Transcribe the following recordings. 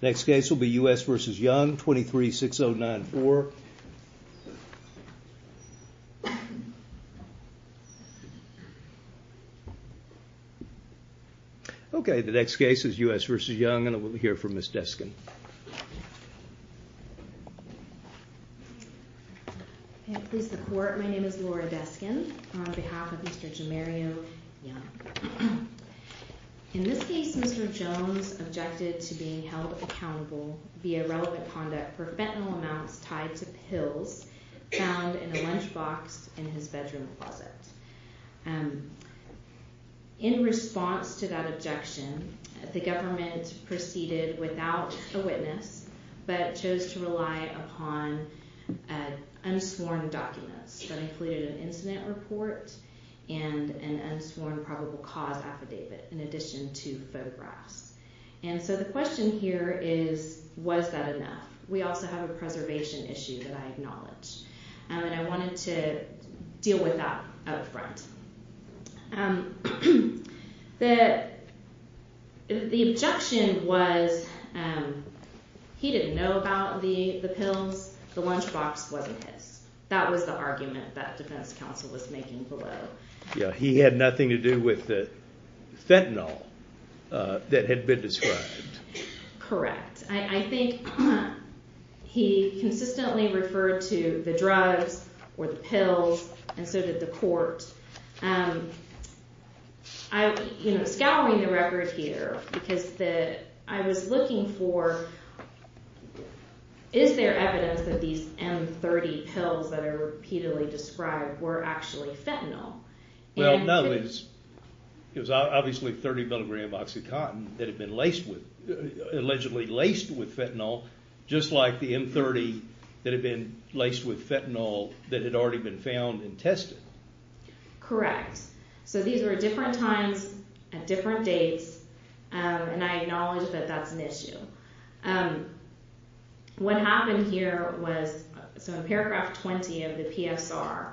Next case will be U.S. v. Young, 23-609-4. Okay, the next case is U.S. v. Young, and we'll hear from Ms. Deskin. May it please the Court, my name is Laura Deskin on behalf of Mr. Jamario Young. In this case, Mr. Jones objected to being held accountable via relevant conduct for fentanyl amounts tied to pills found in a lunchbox in his bedroom closet. In response to that objection, the government proceeded without a witness, but chose to rely upon unsworn documents that included an incident report and an unsworn probable cause affidavit in addition to photographs. And so the question here is, was that enough? We also have a preservation issue that I acknowledge, and I wanted to deal with that up front. The objection was he didn't know about the pills, the lunchbox wasn't his. That was the argument that defense counsel was making below. Yeah, he had nothing to do with the fentanyl that had been described. Correct. I think he consistently referred to the drugs or the pills, and so did the court. I'm scouring the record here because I was looking for, is there evidence that these M30 pills that are repeatedly described were actually fentanyl? Well, no. It was obviously 30 milligrams of OxyContin that had been allegedly laced with fentanyl, just like the M30 that had been laced with fentanyl that had already been found and tested. Correct. So these were different times at different dates, and I acknowledge that that's an issue. What happened here was, so in paragraph 20 of the PSR,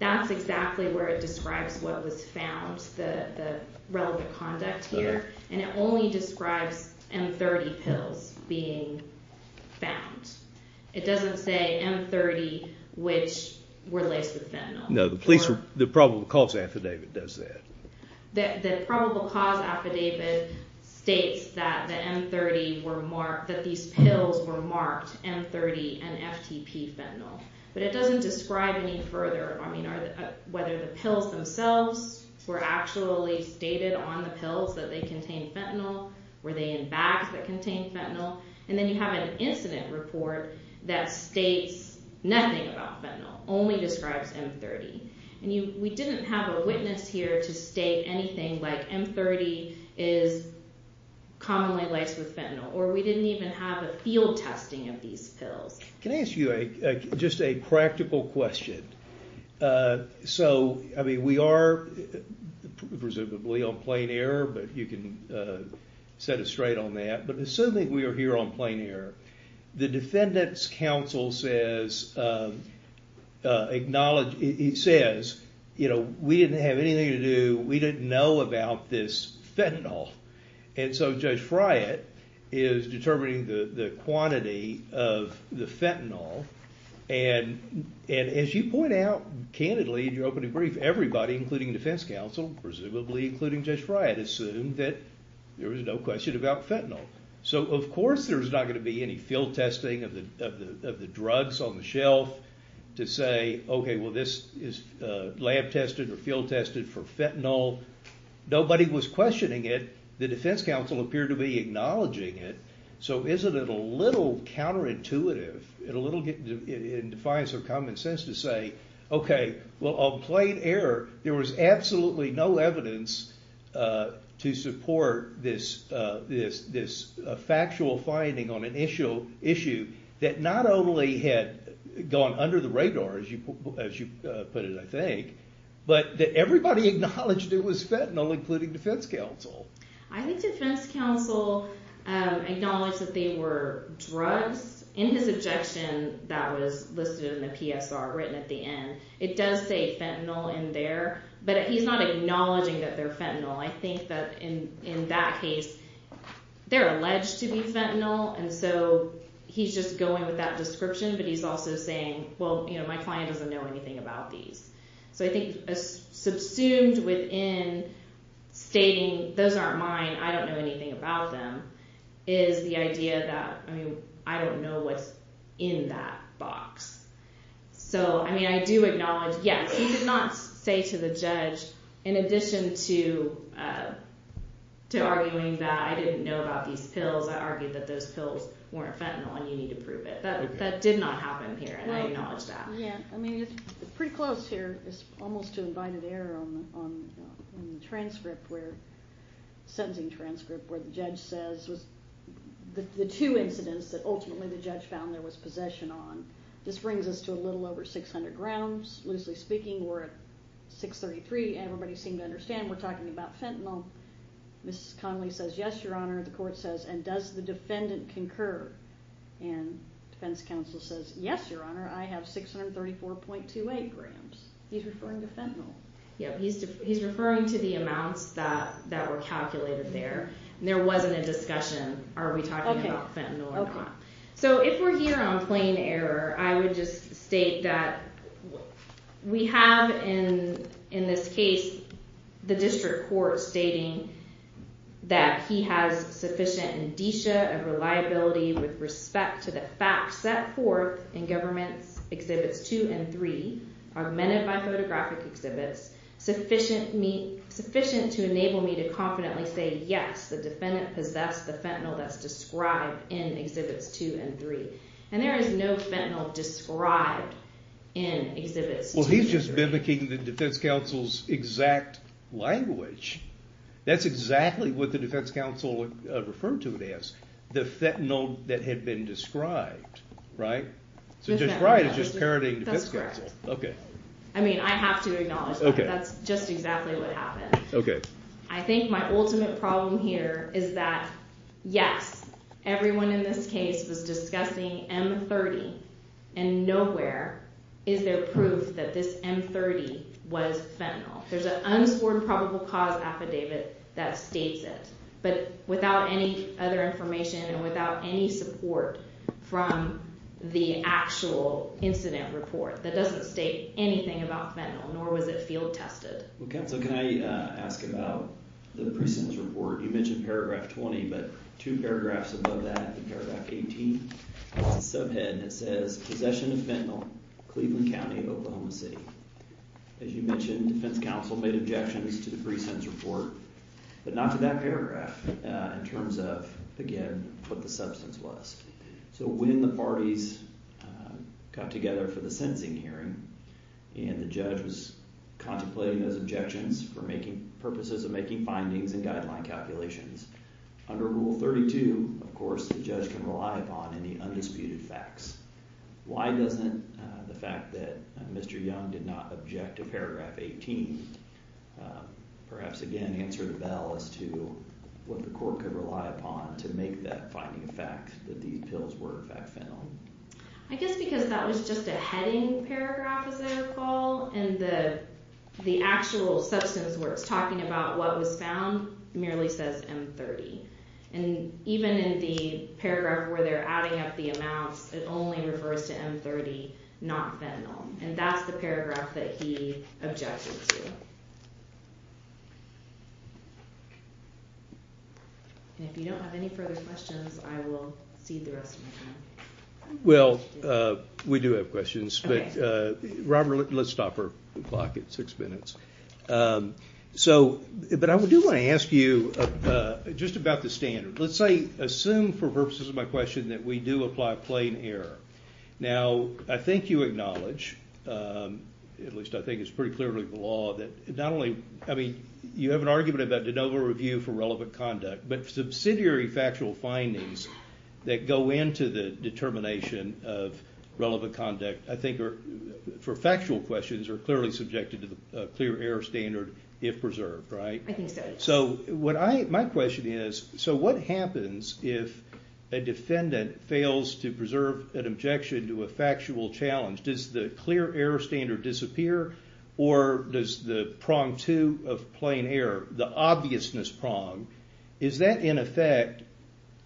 that's exactly where it describes what was found, the relevant conduct here, and it only describes M30 pills being found. It doesn't say M30 which were laced with fentanyl. No, the probable cause affidavit does that. The probable cause affidavit states that these pills were marked M30 and FTP fentanyl, but it doesn't describe any further. I mean, whether the pills themselves were actually stated on the pills that they contained fentanyl, were they in bags that contained fentanyl, and then you have an incident report that states nothing about fentanyl, only describes M30. We didn't have a witness here to state anything like M30 is commonly laced with fentanyl, or we didn't even have a field testing of these pills. Can I ask you just a practical question? So, I mean, we are presumably on plain error, but you can set us straight on that. But assuming we are here on plain error, the defendant's counsel says, we didn't have anything to do, we didn't know about this fentanyl, and so Judge Friant is determining the quantity of the fentanyl, and as you point out candidly in your opening brief, everybody, including defense counsel, presumably including Judge Friant, assumed that there was no question about fentanyl. So of course there's not going to be any field testing of the drugs on the shelf to say, okay, well this is lab tested or field tested for fentanyl. Nobody was questioning it. The defense counsel appeared to be acknowledging it. So isn't it a little counterintuitive, it defies her common sense to say, okay, well on plain error, there was absolutely no evidence to support this factual finding on an issue that not only had gone under the radar, as you put it, I think, but that everybody acknowledged it was fentanyl, including defense counsel. I think defense counsel acknowledged that they were drugs in his objection that was listed in the PSR written at the end. It does say fentanyl in there, but he's not acknowledging that they're fentanyl. I think that in that case, they're alleged to be fentanyl, and so he's just going with that description, but he's also saying, well, my client doesn't know anything about these. So I think subsumed within stating, those aren't mine, I don't know anything about them, is the idea that, I mean, I don't know what's in that box. So, I mean, I do acknowledge, yes, he did not say to the judge, in addition to arguing that I didn't know about these pills, I argued that those pills weren't fentanyl and you need to prove it. That did not happen here, and I acknowledge that. Yeah, I mean, it's pretty close here, it's almost to invited error on the transcript where, sentencing transcript, where the judge says, the two incidents that ultimately the judge found there was possession on. This brings us to a little over 600 grounds, loosely speaking, we're at 633, everybody seemed to understand we're talking about fentanyl. Mrs. Connelly says, yes, your honor, the court says, and does the defendant concur? And defense counsel says, yes, your honor, I have 634.28 grams. He's referring to fentanyl. Yeah, he's referring to the amounts that were calculated there, and there wasn't a discussion, are we talking about fentanyl or not. So, if we're here on plain error, I would just state that we have, in this case, the district court stating that he has sufficient indicia of reliability with respect to the facts set forth in Government Exhibits 2 and 3, augmented by photographic exhibits, sufficient to enable me to confidently say, yes, the defendant possessed the fentanyl that's described in Exhibits 2. And there is no fentanyl described in Exhibits 2 and 3. Well, he's just mimicking the defense counsel's exact language. That's exactly what the defense counsel referred to it as, the fentanyl that had been described, right? So, described is just parodying defense counsel. That's correct. Okay. I mean, I have to acknowledge that. Okay. That's just exactly what happened. Okay. I think my ultimate problem here is that, yes, everyone in this case was discussing M30, and nowhere is there proof that this M30 was fentanyl. There's an unscored probable cause affidavit that states it, but without any other information and without any support from the actual incident report. That doesn't state anything about fentanyl, nor was it field tested. Well, counsel, can I ask about the pre-sentence report? You mentioned Paragraph 20, but two paragraphs above that in Paragraph 18, it's a subhead, and it says, Possession of fentanyl, Cleveland County, Oklahoma City. As you mentioned, defense counsel made objections to the pre-sentence report, but not to that paragraph, in terms of, again, what the substance was. So when the parties got together for the sentencing hearing and the judge was contemplating those objections for purposes of making findings and guideline calculations, under Rule 32, of course, the judge can rely upon any undisputed facts. Why doesn't the fact that Mr. Young did not object to Paragraph 18 perhaps, again, answer the bell as to what the court could rely upon to make that finding a fact that these pills were in fact fentanyl? I guess because that was just a heading paragraph, as I recall, and the actual substance where it's talking about what was found merely says M30. And even in the paragraph where they're adding up the amounts, it only refers to M30, not fentanyl. And that's the paragraph that he objected to. And if you don't have any further questions, I will cede the rest of my time. Well, we do have questions, but Robert, let's stop our clock at six minutes. But I do want to ask you just about the standard. Let's say, assume for purposes of my question that we do apply plain error. Now, I think you acknowledge, at least I think it's pretty clearly the law, that not only, I mean, you have an argument about de novo review for relevant conduct, but subsidiary factual findings that go into the determination of relevant conduct, I think, for factual questions, are clearly subjected to the clear error standard if preserved, right? I think so. So my question is, so what happens if a defendant fails to preserve an objection to a factual challenge? Does the clear error standard disappear, or does the prong two of plain error, the obviousness prong, is that, in effect,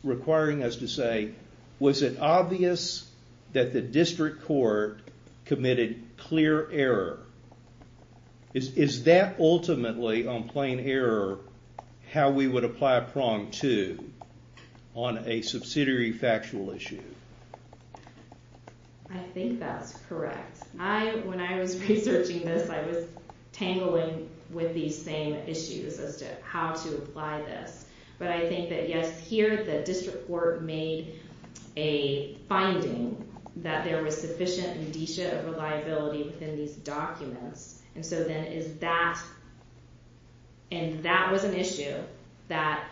requiring us to say, was it obvious that the district court committed clear error? Is that ultimately, on plain error, how we would apply prong two on a subsidiary factual issue? I think that's correct. When I was researching this, I was tangling with these same issues as to how to apply this. But I think that, yes, here the district court made a finding that there was sufficient indicia of reliability within these documents, and so then is that, and that was an issue that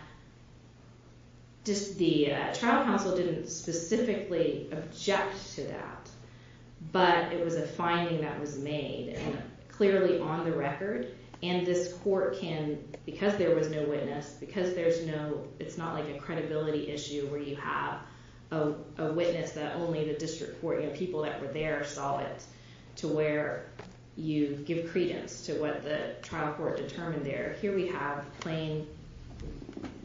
just the trial counsel didn't specifically object to that, but it was a finding that was made, and clearly on the record, and this court can, because there was no witness, because there's no, it's not like a credibility issue where you have a witness that only the district court, you know, people that were there saw it, to where you give credence to what the trial court determined there. Here we have plain,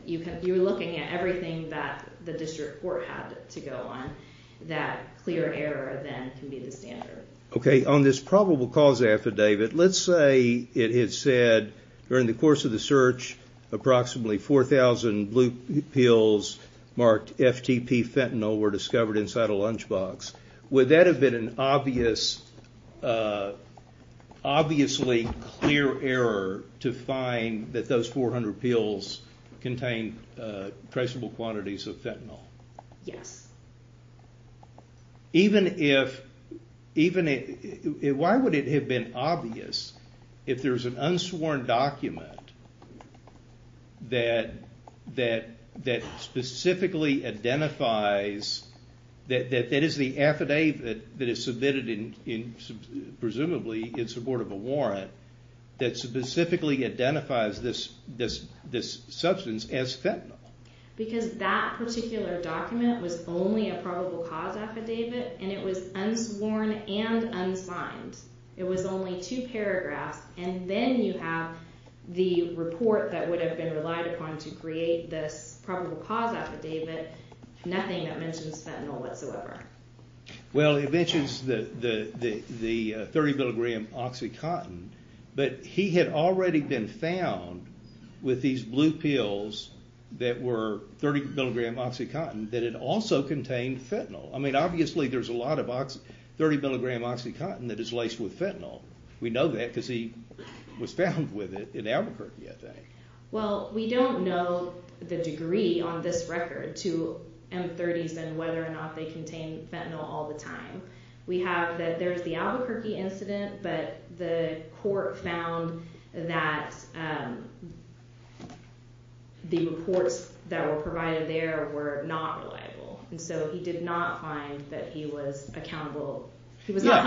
you're looking at everything that the district court had to go on, that clear error then can be the standard. Okay, on this probable cause affidavit, let's say it had said, during the course of the search, approximately 4,000 blue pills marked FTP fentanyl were discovered inside a lunchbox. Would that have been an obviously clear error to find that those 400 pills contained traceable quantities of fentanyl? Yes. Even if, why would it have been obvious if there's an unsworn document that specifically identifies, that is the affidavit that is submitted, presumably in support of a warrant, that specifically identifies this substance as fentanyl? Because that particular document was only a probable cause affidavit, and it was unsworn and unsigned. It was only two paragraphs, and then you have the report that would have been relied upon to create this probable cause affidavit, nothing that mentions fentanyl whatsoever. Well, it mentions the 30 milligram Oxycontin, but he had already been found with these blue pills that were 30 milligram Oxycontin, that it also contained fentanyl. I mean, obviously there's a lot of 30 milligram Oxycontin that is laced with fentanyl. We know that because he was found with it in Albuquerque, I think. Well, we don't know the degree on this record to M30s and whether or not they contain fentanyl all the time. We have that there's the Albuquerque incident, but the court found that the reports that were provided there were not reliable. And so he did not find that he was held accountable for that.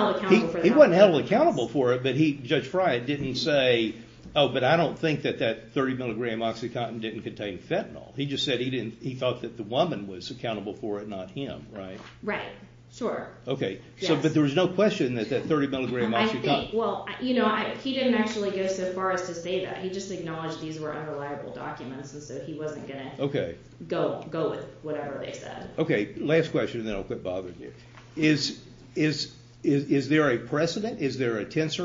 But Judge Friant didn't say, oh, but I don't think that that 30 milligram Oxycontin didn't contain fentanyl. He just said he thought that the woman was accountable for it, not him, right? Right, sure. Okay, but there was no question that that 30 milligram Oxycontin. Well, you know, he didn't actually go so far as to say that. He just acknowledged these were unreliable documents, and so he wasn't going to go with whatever they said. Okay, last question, and then I'll quit bothering you. Is there a precedent? Is there a tense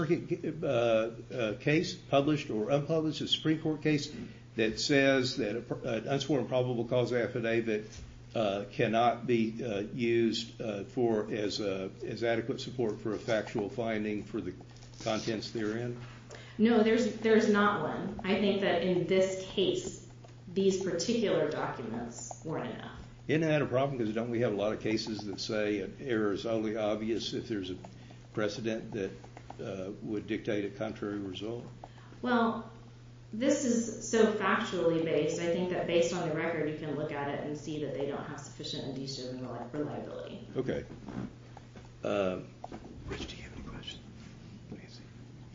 case, published or unpublished, a Supreme Court case that says that an unsworn probable cause affidavit cannot be used as adequate support for a factual finding for the contents therein? No, there's not one. I think that in this case, these particular documents weren't enough. Isn't that a problem, because don't we have a lot of cases that say it's only obvious if there's a precedent that would dictate a contrary result? Well, this is so factually based, I think that based on the record, you can look at it and see that they don't have sufficient and decent reliability. Okay.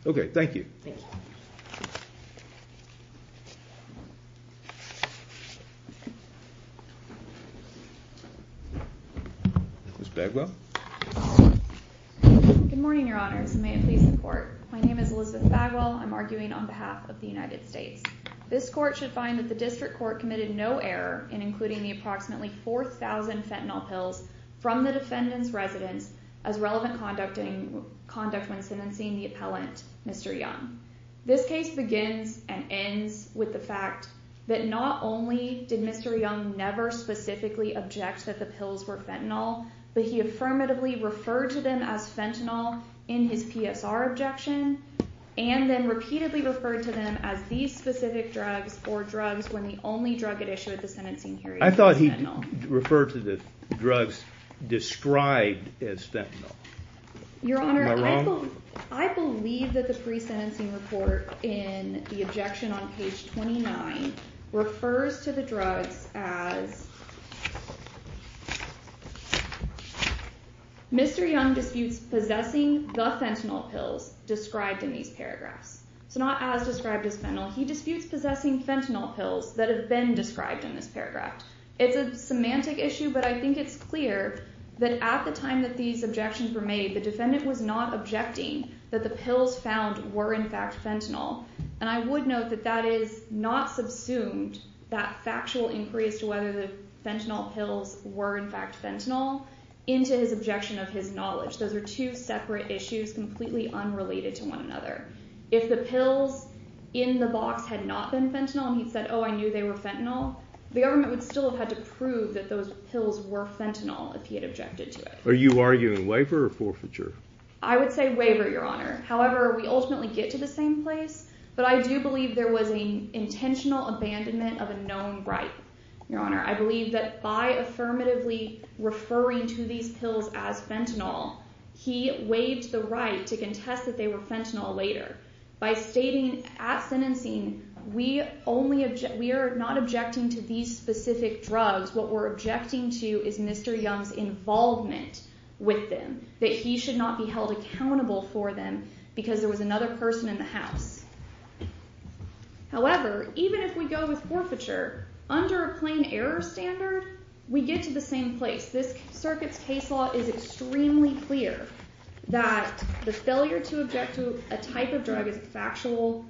Okay, thank you. Thank you. Ms. Bagwell? Good morning, Your Honors, and may it please the Court. My name is Elizabeth Bagwell. I'm arguing on behalf of the United States. This Court should find that the District Court committed no error in including the approximately 4,000 fentanyl pills from the defendant's residence as relevant conduct when sentencing the appellant, Mr. Young. This case begins and ends with the fact that not only did Mr. Young never specifically object that the pills were fentanyl, but he affirmatively referred to them as fentanyl in his PSR objection, and then repeatedly referred to them as these specific drugs or drugs when the only drug at issue at the sentencing hearing was fentanyl. I thought he referred to the drugs described as fentanyl. Your Honor, I believe that the pre-sentencing hearing was fentanyl. The pre-sentencing report in the objection on page 29 refers to the drugs as Mr. Young disputes possessing the fentanyl pills described in these paragraphs. It's not as described as fentanyl. He disputes possessing fentanyl pills that have been described in this paragraph. It's a semantic issue, but I think it's clear that at the time that these objections were made, the defendant was not objecting that the pills found were, in fact, fentanyl. And I would note that that is not subsumed, that factual inquiry as to whether the fentanyl pills were, in fact, fentanyl, into his objection of his knowledge. Those are two separate issues completely unrelated to one another. If the pills in the box had not been fentanyl and he'd said, oh, I knew they were fentanyl, the government would still have had to prove that those pills were fentanyl if he had objected to it. Are you arguing waiver or forfeiture? I would say waiver, Your Honor. However, we ultimately get to the same place, but I do believe there was an intentional abandonment of a known right, Your Honor. I believe that by affirmatively referring to these pills as fentanyl, he waived the right to contest that they were fentanyl later. By stating at sentencing, we are not objecting to these specific drugs. What we're objecting to is Mr. Young's involvement with them, that he should not be held accountable for them because there was another person in the house. However, even if we go with forfeiture, under a plain error standard, we get to the same place. This circuit's case law is extremely clear that the failure to object to a type of drug is a factual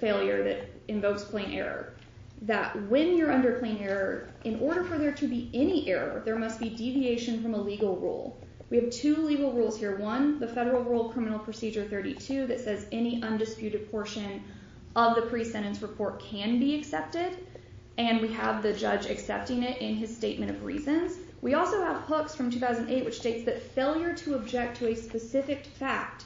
failure that invokes plain error. That when you're under plain error, in order for there to be any error, there must be deviation from a legal rule. We have two legal rules here. One, the Federal Rule Criminal Procedure 32 that says any undisputed portion of the pre-sentence report can be accepted, and we have the judge accepting it in his statement of reasons. We also have hooks from 2008, which states that failure to object to a specific fact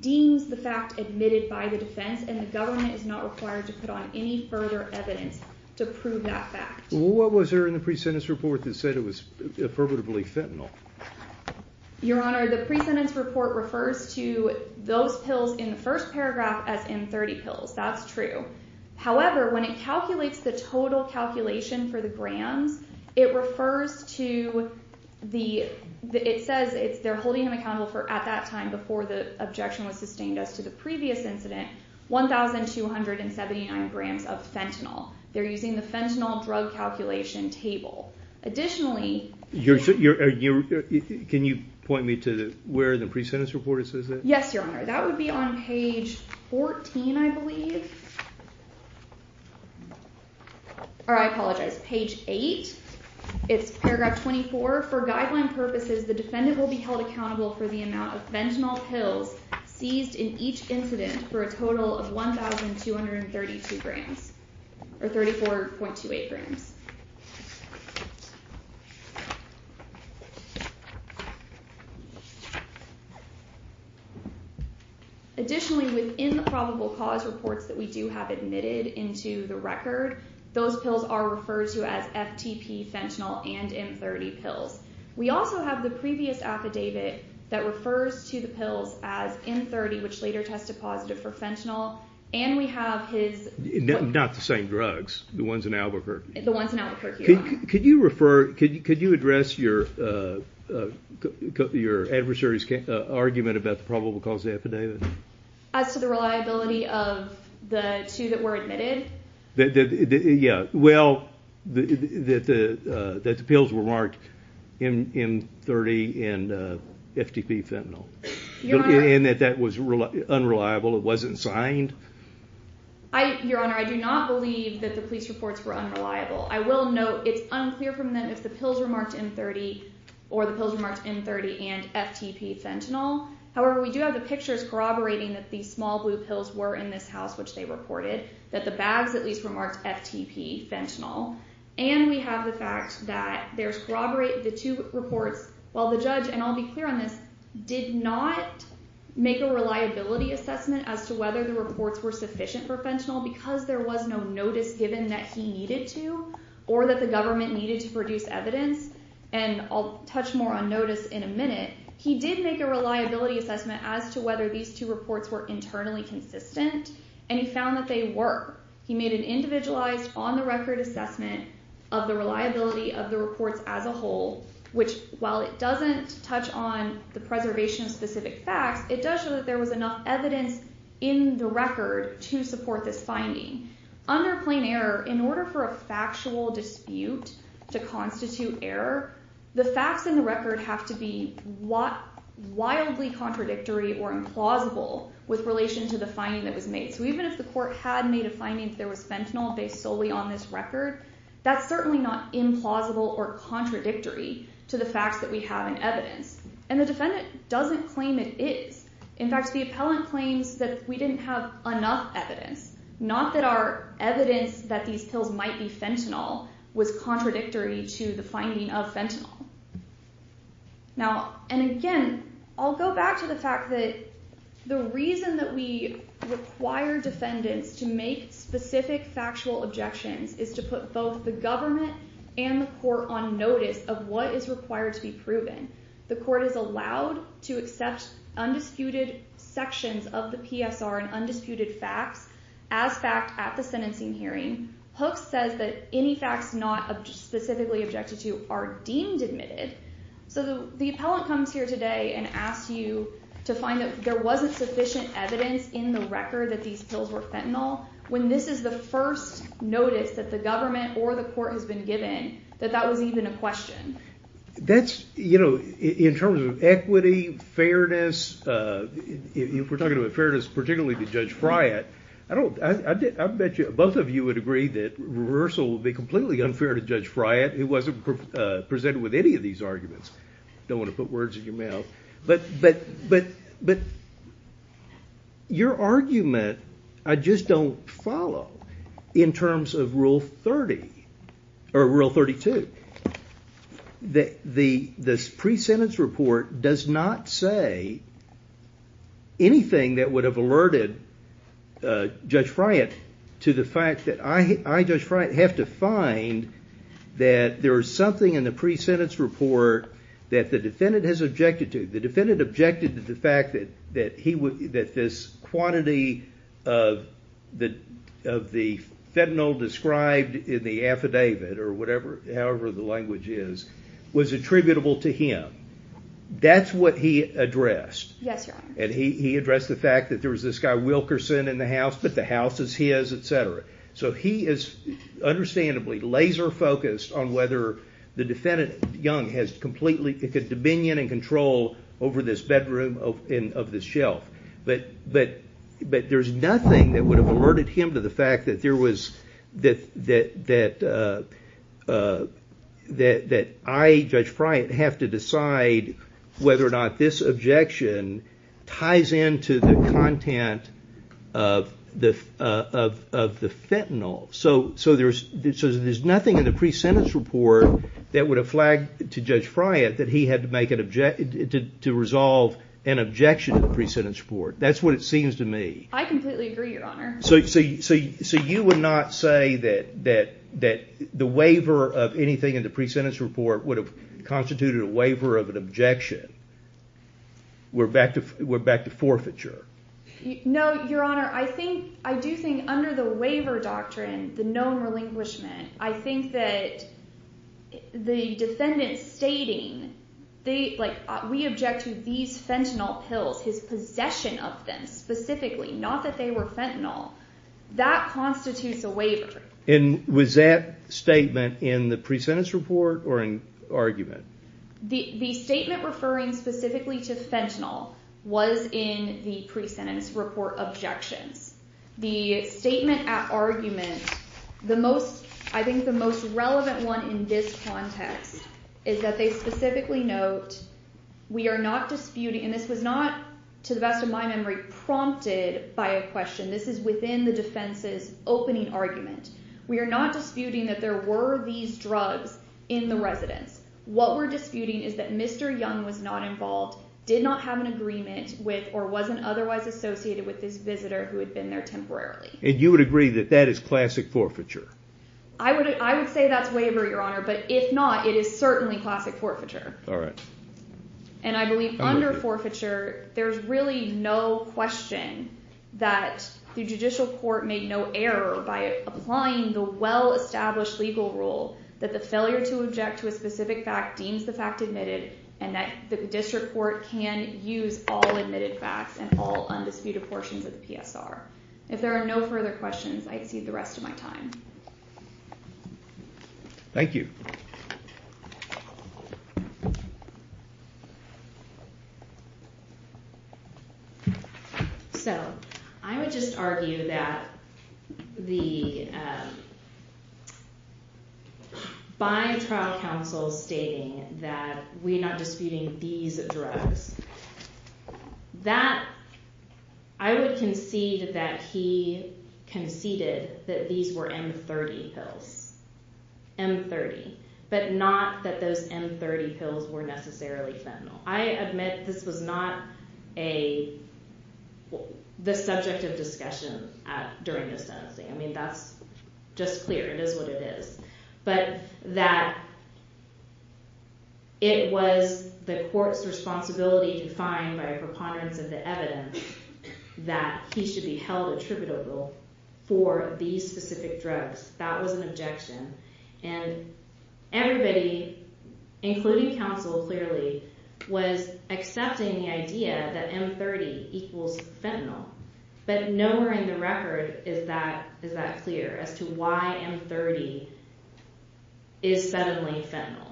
deems the fact admitted by the defense, and the government is not required to put on any further evidence to prove that fact. What was there in the pre-sentence report that said it was affirmatively fentanyl? Your Honor, the pre-sentence report refers to those pills in the first paragraph as M30 pills. That's true. However, when it calculates the total calculation for the grams, it refers to the – it says they're holding him accountable for, at that time, before the objection was sustained as to the previous incident, 1,279 grams of fentanyl. They're using the fentanyl drug calculation table. Additionally – Can you point me to where the pre-sentence report says that? Yes, Your Honor. That would be on page 14, I believe. Or, I apologize, page 8. It's paragraph 24. However, for guideline purposes, the defendant will be held accountable for the amount of fentanyl pills seized in each incident for a total of 1,232 grams, or 34.28 grams. Additionally, within the probable cause reports that we do have admitted into the record, those pills are referred to as FTP, fentanyl, and M30 pills. We also have the previous affidavit that refers to the pills as M30, which later tested positive for fentanyl, and we have his – Not the same drugs. The ones in Albuquerque. The ones in Albuquerque, Your Honor. Could you refer – could you address your adversary's argument about the probable cause of the affidavit? As to the reliability of the two that were admitted? Yeah. Well, that the pills were marked M30 and FTP, fentanyl. Your Honor – And that that was unreliable, it wasn't signed? Your Honor, I do not believe that the police reports were unreliable. I will note it's unclear from them if the pills were marked M30 or the pills were marked M30 and FTP, fentanyl. However, we do have the pictures corroborating that these small blue pills were in this house, which they reported, that the bags at least were marked FTP, fentanyl. And we have the fact that there's corroborated the two reports, while the judge – and I'll be clear on this – did not make a reliability assessment as to whether the reports were sufficient for fentanyl because there was no notice given that he needed to or that the government needed to produce evidence. And I'll touch more on notice in a minute. He did make a reliability assessment as to whether these two reports were internally consistent, and he found that they were. He made an individualized, on-the-record assessment of the reliability of the reports as a whole, which, while it doesn't touch on the preservation of specific facts, it does show that there was enough evidence in the record to support this finding. Under plain error, in order for a factual dispute to constitute error, the facts in the record have to be wildly contradictory or implausible with relation to the finding that was made. So even if the court had made a finding that there was fentanyl based solely on this record, that's certainly not implausible or contradictory to the facts that we have in evidence. And the defendant doesn't claim it is. In fact, the appellant claims that we didn't have enough evidence, not that our evidence that these pills might be fentanyl was contradictory to the finding of fentanyl. Now, and again, I'll go back to the fact that the reason that we require defendants to make specific factual objections is to put both the government and the court on notice of what is required to be proven. The court is allowed to accept undisputed sections of the PSR and undisputed facts as fact at the sentencing hearing. Hooks says that any facts not specifically objected to are deemed admitted. So the appellant comes here today and asks you to find that there wasn't sufficient evidence in the record that these pills were fentanyl when this is the first notice that the government or the court has been given that that was even a question. That's, you know, in terms of equity, fairness, if we're talking about fairness particularly to Judge Friant, I bet you both of you would agree that reversal would be completely unfair to Judge Friant who wasn't presented with any of these arguments. I don't want to put words in your mouth. But your argument I just don't follow in terms of Rule 30, or Rule 32. The pre-sentence report does not say anything that would have alerted Judge Friant to the fact that I, Judge Friant, have to find that there is something in the pre-sentence report that is not true. That the defendant has objected to. The defendant objected to the fact that this quantity of the fentanyl described in the affidavit, or however the language is, was attributable to him. That's what he addressed. Yes, Your Honor. And he addressed the fact that there was this guy Wilkerson in the house, but the house is his, etc. So he is understandably laser focused on whether the defendant, Young, has completely dominion and control over this bedroom of this shelf. But there is nothing that would have alerted him to the fact that I, Judge Friant, have to decide whether or not this objection ties into the content of the fentanyl. So there's nothing in the pre-sentence report that would have flagged to Judge Friant that he had to resolve an objection to the pre-sentence report. That's what it seems to me. I completely agree, Your Honor. So you would not say that the waiver of anything in the pre-sentence report would have constituted a waiver of an objection. We're back to forfeiture. No, Your Honor. I do think under the waiver doctrine, the known relinquishment, I think that the defendant stating, we object to these fentanyl pills, his possession of them specifically, not that they were fentanyl, that constitutes a waiver. And was that statement in the pre-sentence report or in argument? The statement referring specifically to fentanyl was in the pre-sentence report objections. The statement at argument, I think the most relevant one in this context is that they specifically note, we are not disputing, and this was not, to the best of my memory, prompted by a question. This is within the defense's opening argument. We are not disputing that there were these drugs in the residence. What we're disputing is that Mr. Young was not involved, did not have an agreement with, or wasn't otherwise associated with this visitor who had been there temporarily. And you would agree that that is classic forfeiture? I would say that's waiver, Your Honor, but if not, it is certainly classic forfeiture. And I believe under forfeiture, there's really no question that the judicial court made no error by applying the well-established legal rule that the failure to object to a specific fact deems the fact admitted, and that the district court can use all admitted facts and all undisputed portions of the PSR. If there are no further questions, I accede the rest of my time. Thank you. So I would just argue that by trial counsel stating that we're not disputing these drugs, I would concede that he conceded that these were M30 pills. M30. But not that those M30 pills were necessarily fentanyl. I admit this was not the subject of discussion during this sentencing. I mean, that's just clear. It is what it is. But that it was the court's responsibility to find by a preponderance of the evidence that he should be held attributable for these specific drugs, that was an objection. And everybody, including counsel clearly, was accepting the idea that M30 equals fentanyl. But nowhere in the record is that clear as to why M30 is suddenly fentanyl.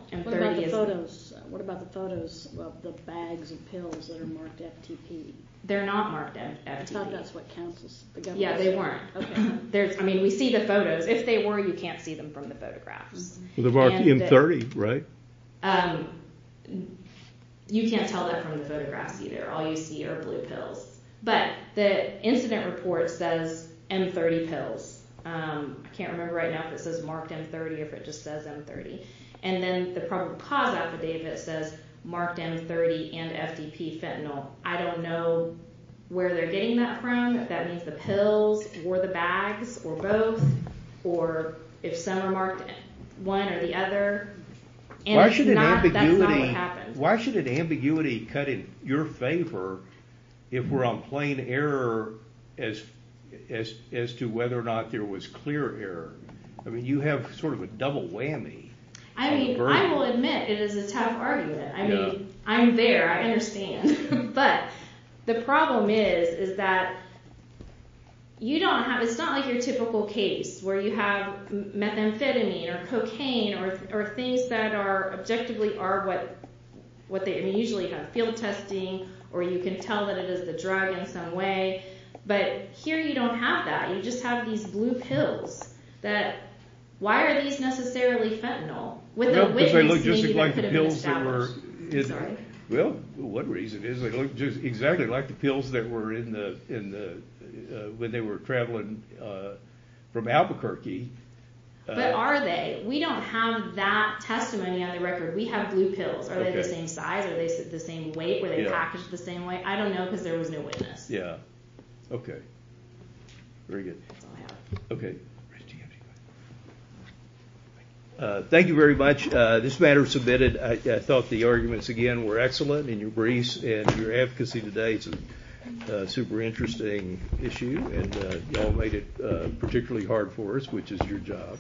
What about the photos of the bags of pills that are marked FTP? They're not marked FTP. I thought that's what counsel said. Yeah, they weren't. I mean, we see the photos. If they were, you can't see them from the photographs. They're marked M30, right? You can't tell that from the photographs either. All you see are blue pills. But the incident report says M30 pills. I can't remember right now if it says marked M30 or if it just says M30. And then the probable cause affidavit says marked M30 and FTP fentanyl. I don't know where they're getting that from, if that means the pills or the bags or both, or if some are marked one or the other. Why should an ambiguity cut in your favor if we're on plain error as to whether or not there was clear error? I mean, you have sort of a double whammy. I mean, I will admit it is a tough argument. I mean, I'm there, I understand. But the problem is, is that you don't have, it's not like your typical case where you have methamphetamine or cocaine or things that are, objectively are what they usually have. Field testing or you can tell that it is the drug in some way. But here you don't have that. You just have these blue pills that, why are these necessarily fentanyl? Well, one reason is they look exactly like the pills that were in the, when they were traveling from Albuquerque. But are they? We don't have that testimony on the record. We have blue pills. Are they the same size? Are they the same weight? Were they packaged the same way? I don't know because there was no witness. Yeah. Okay. Very good. Okay. Thank you very much. This matter is submitted. I thought the arguments, again, were excellent in your briefs and your advocacy today. It's a super interesting issue and you all made it particularly hard for us, which is your job.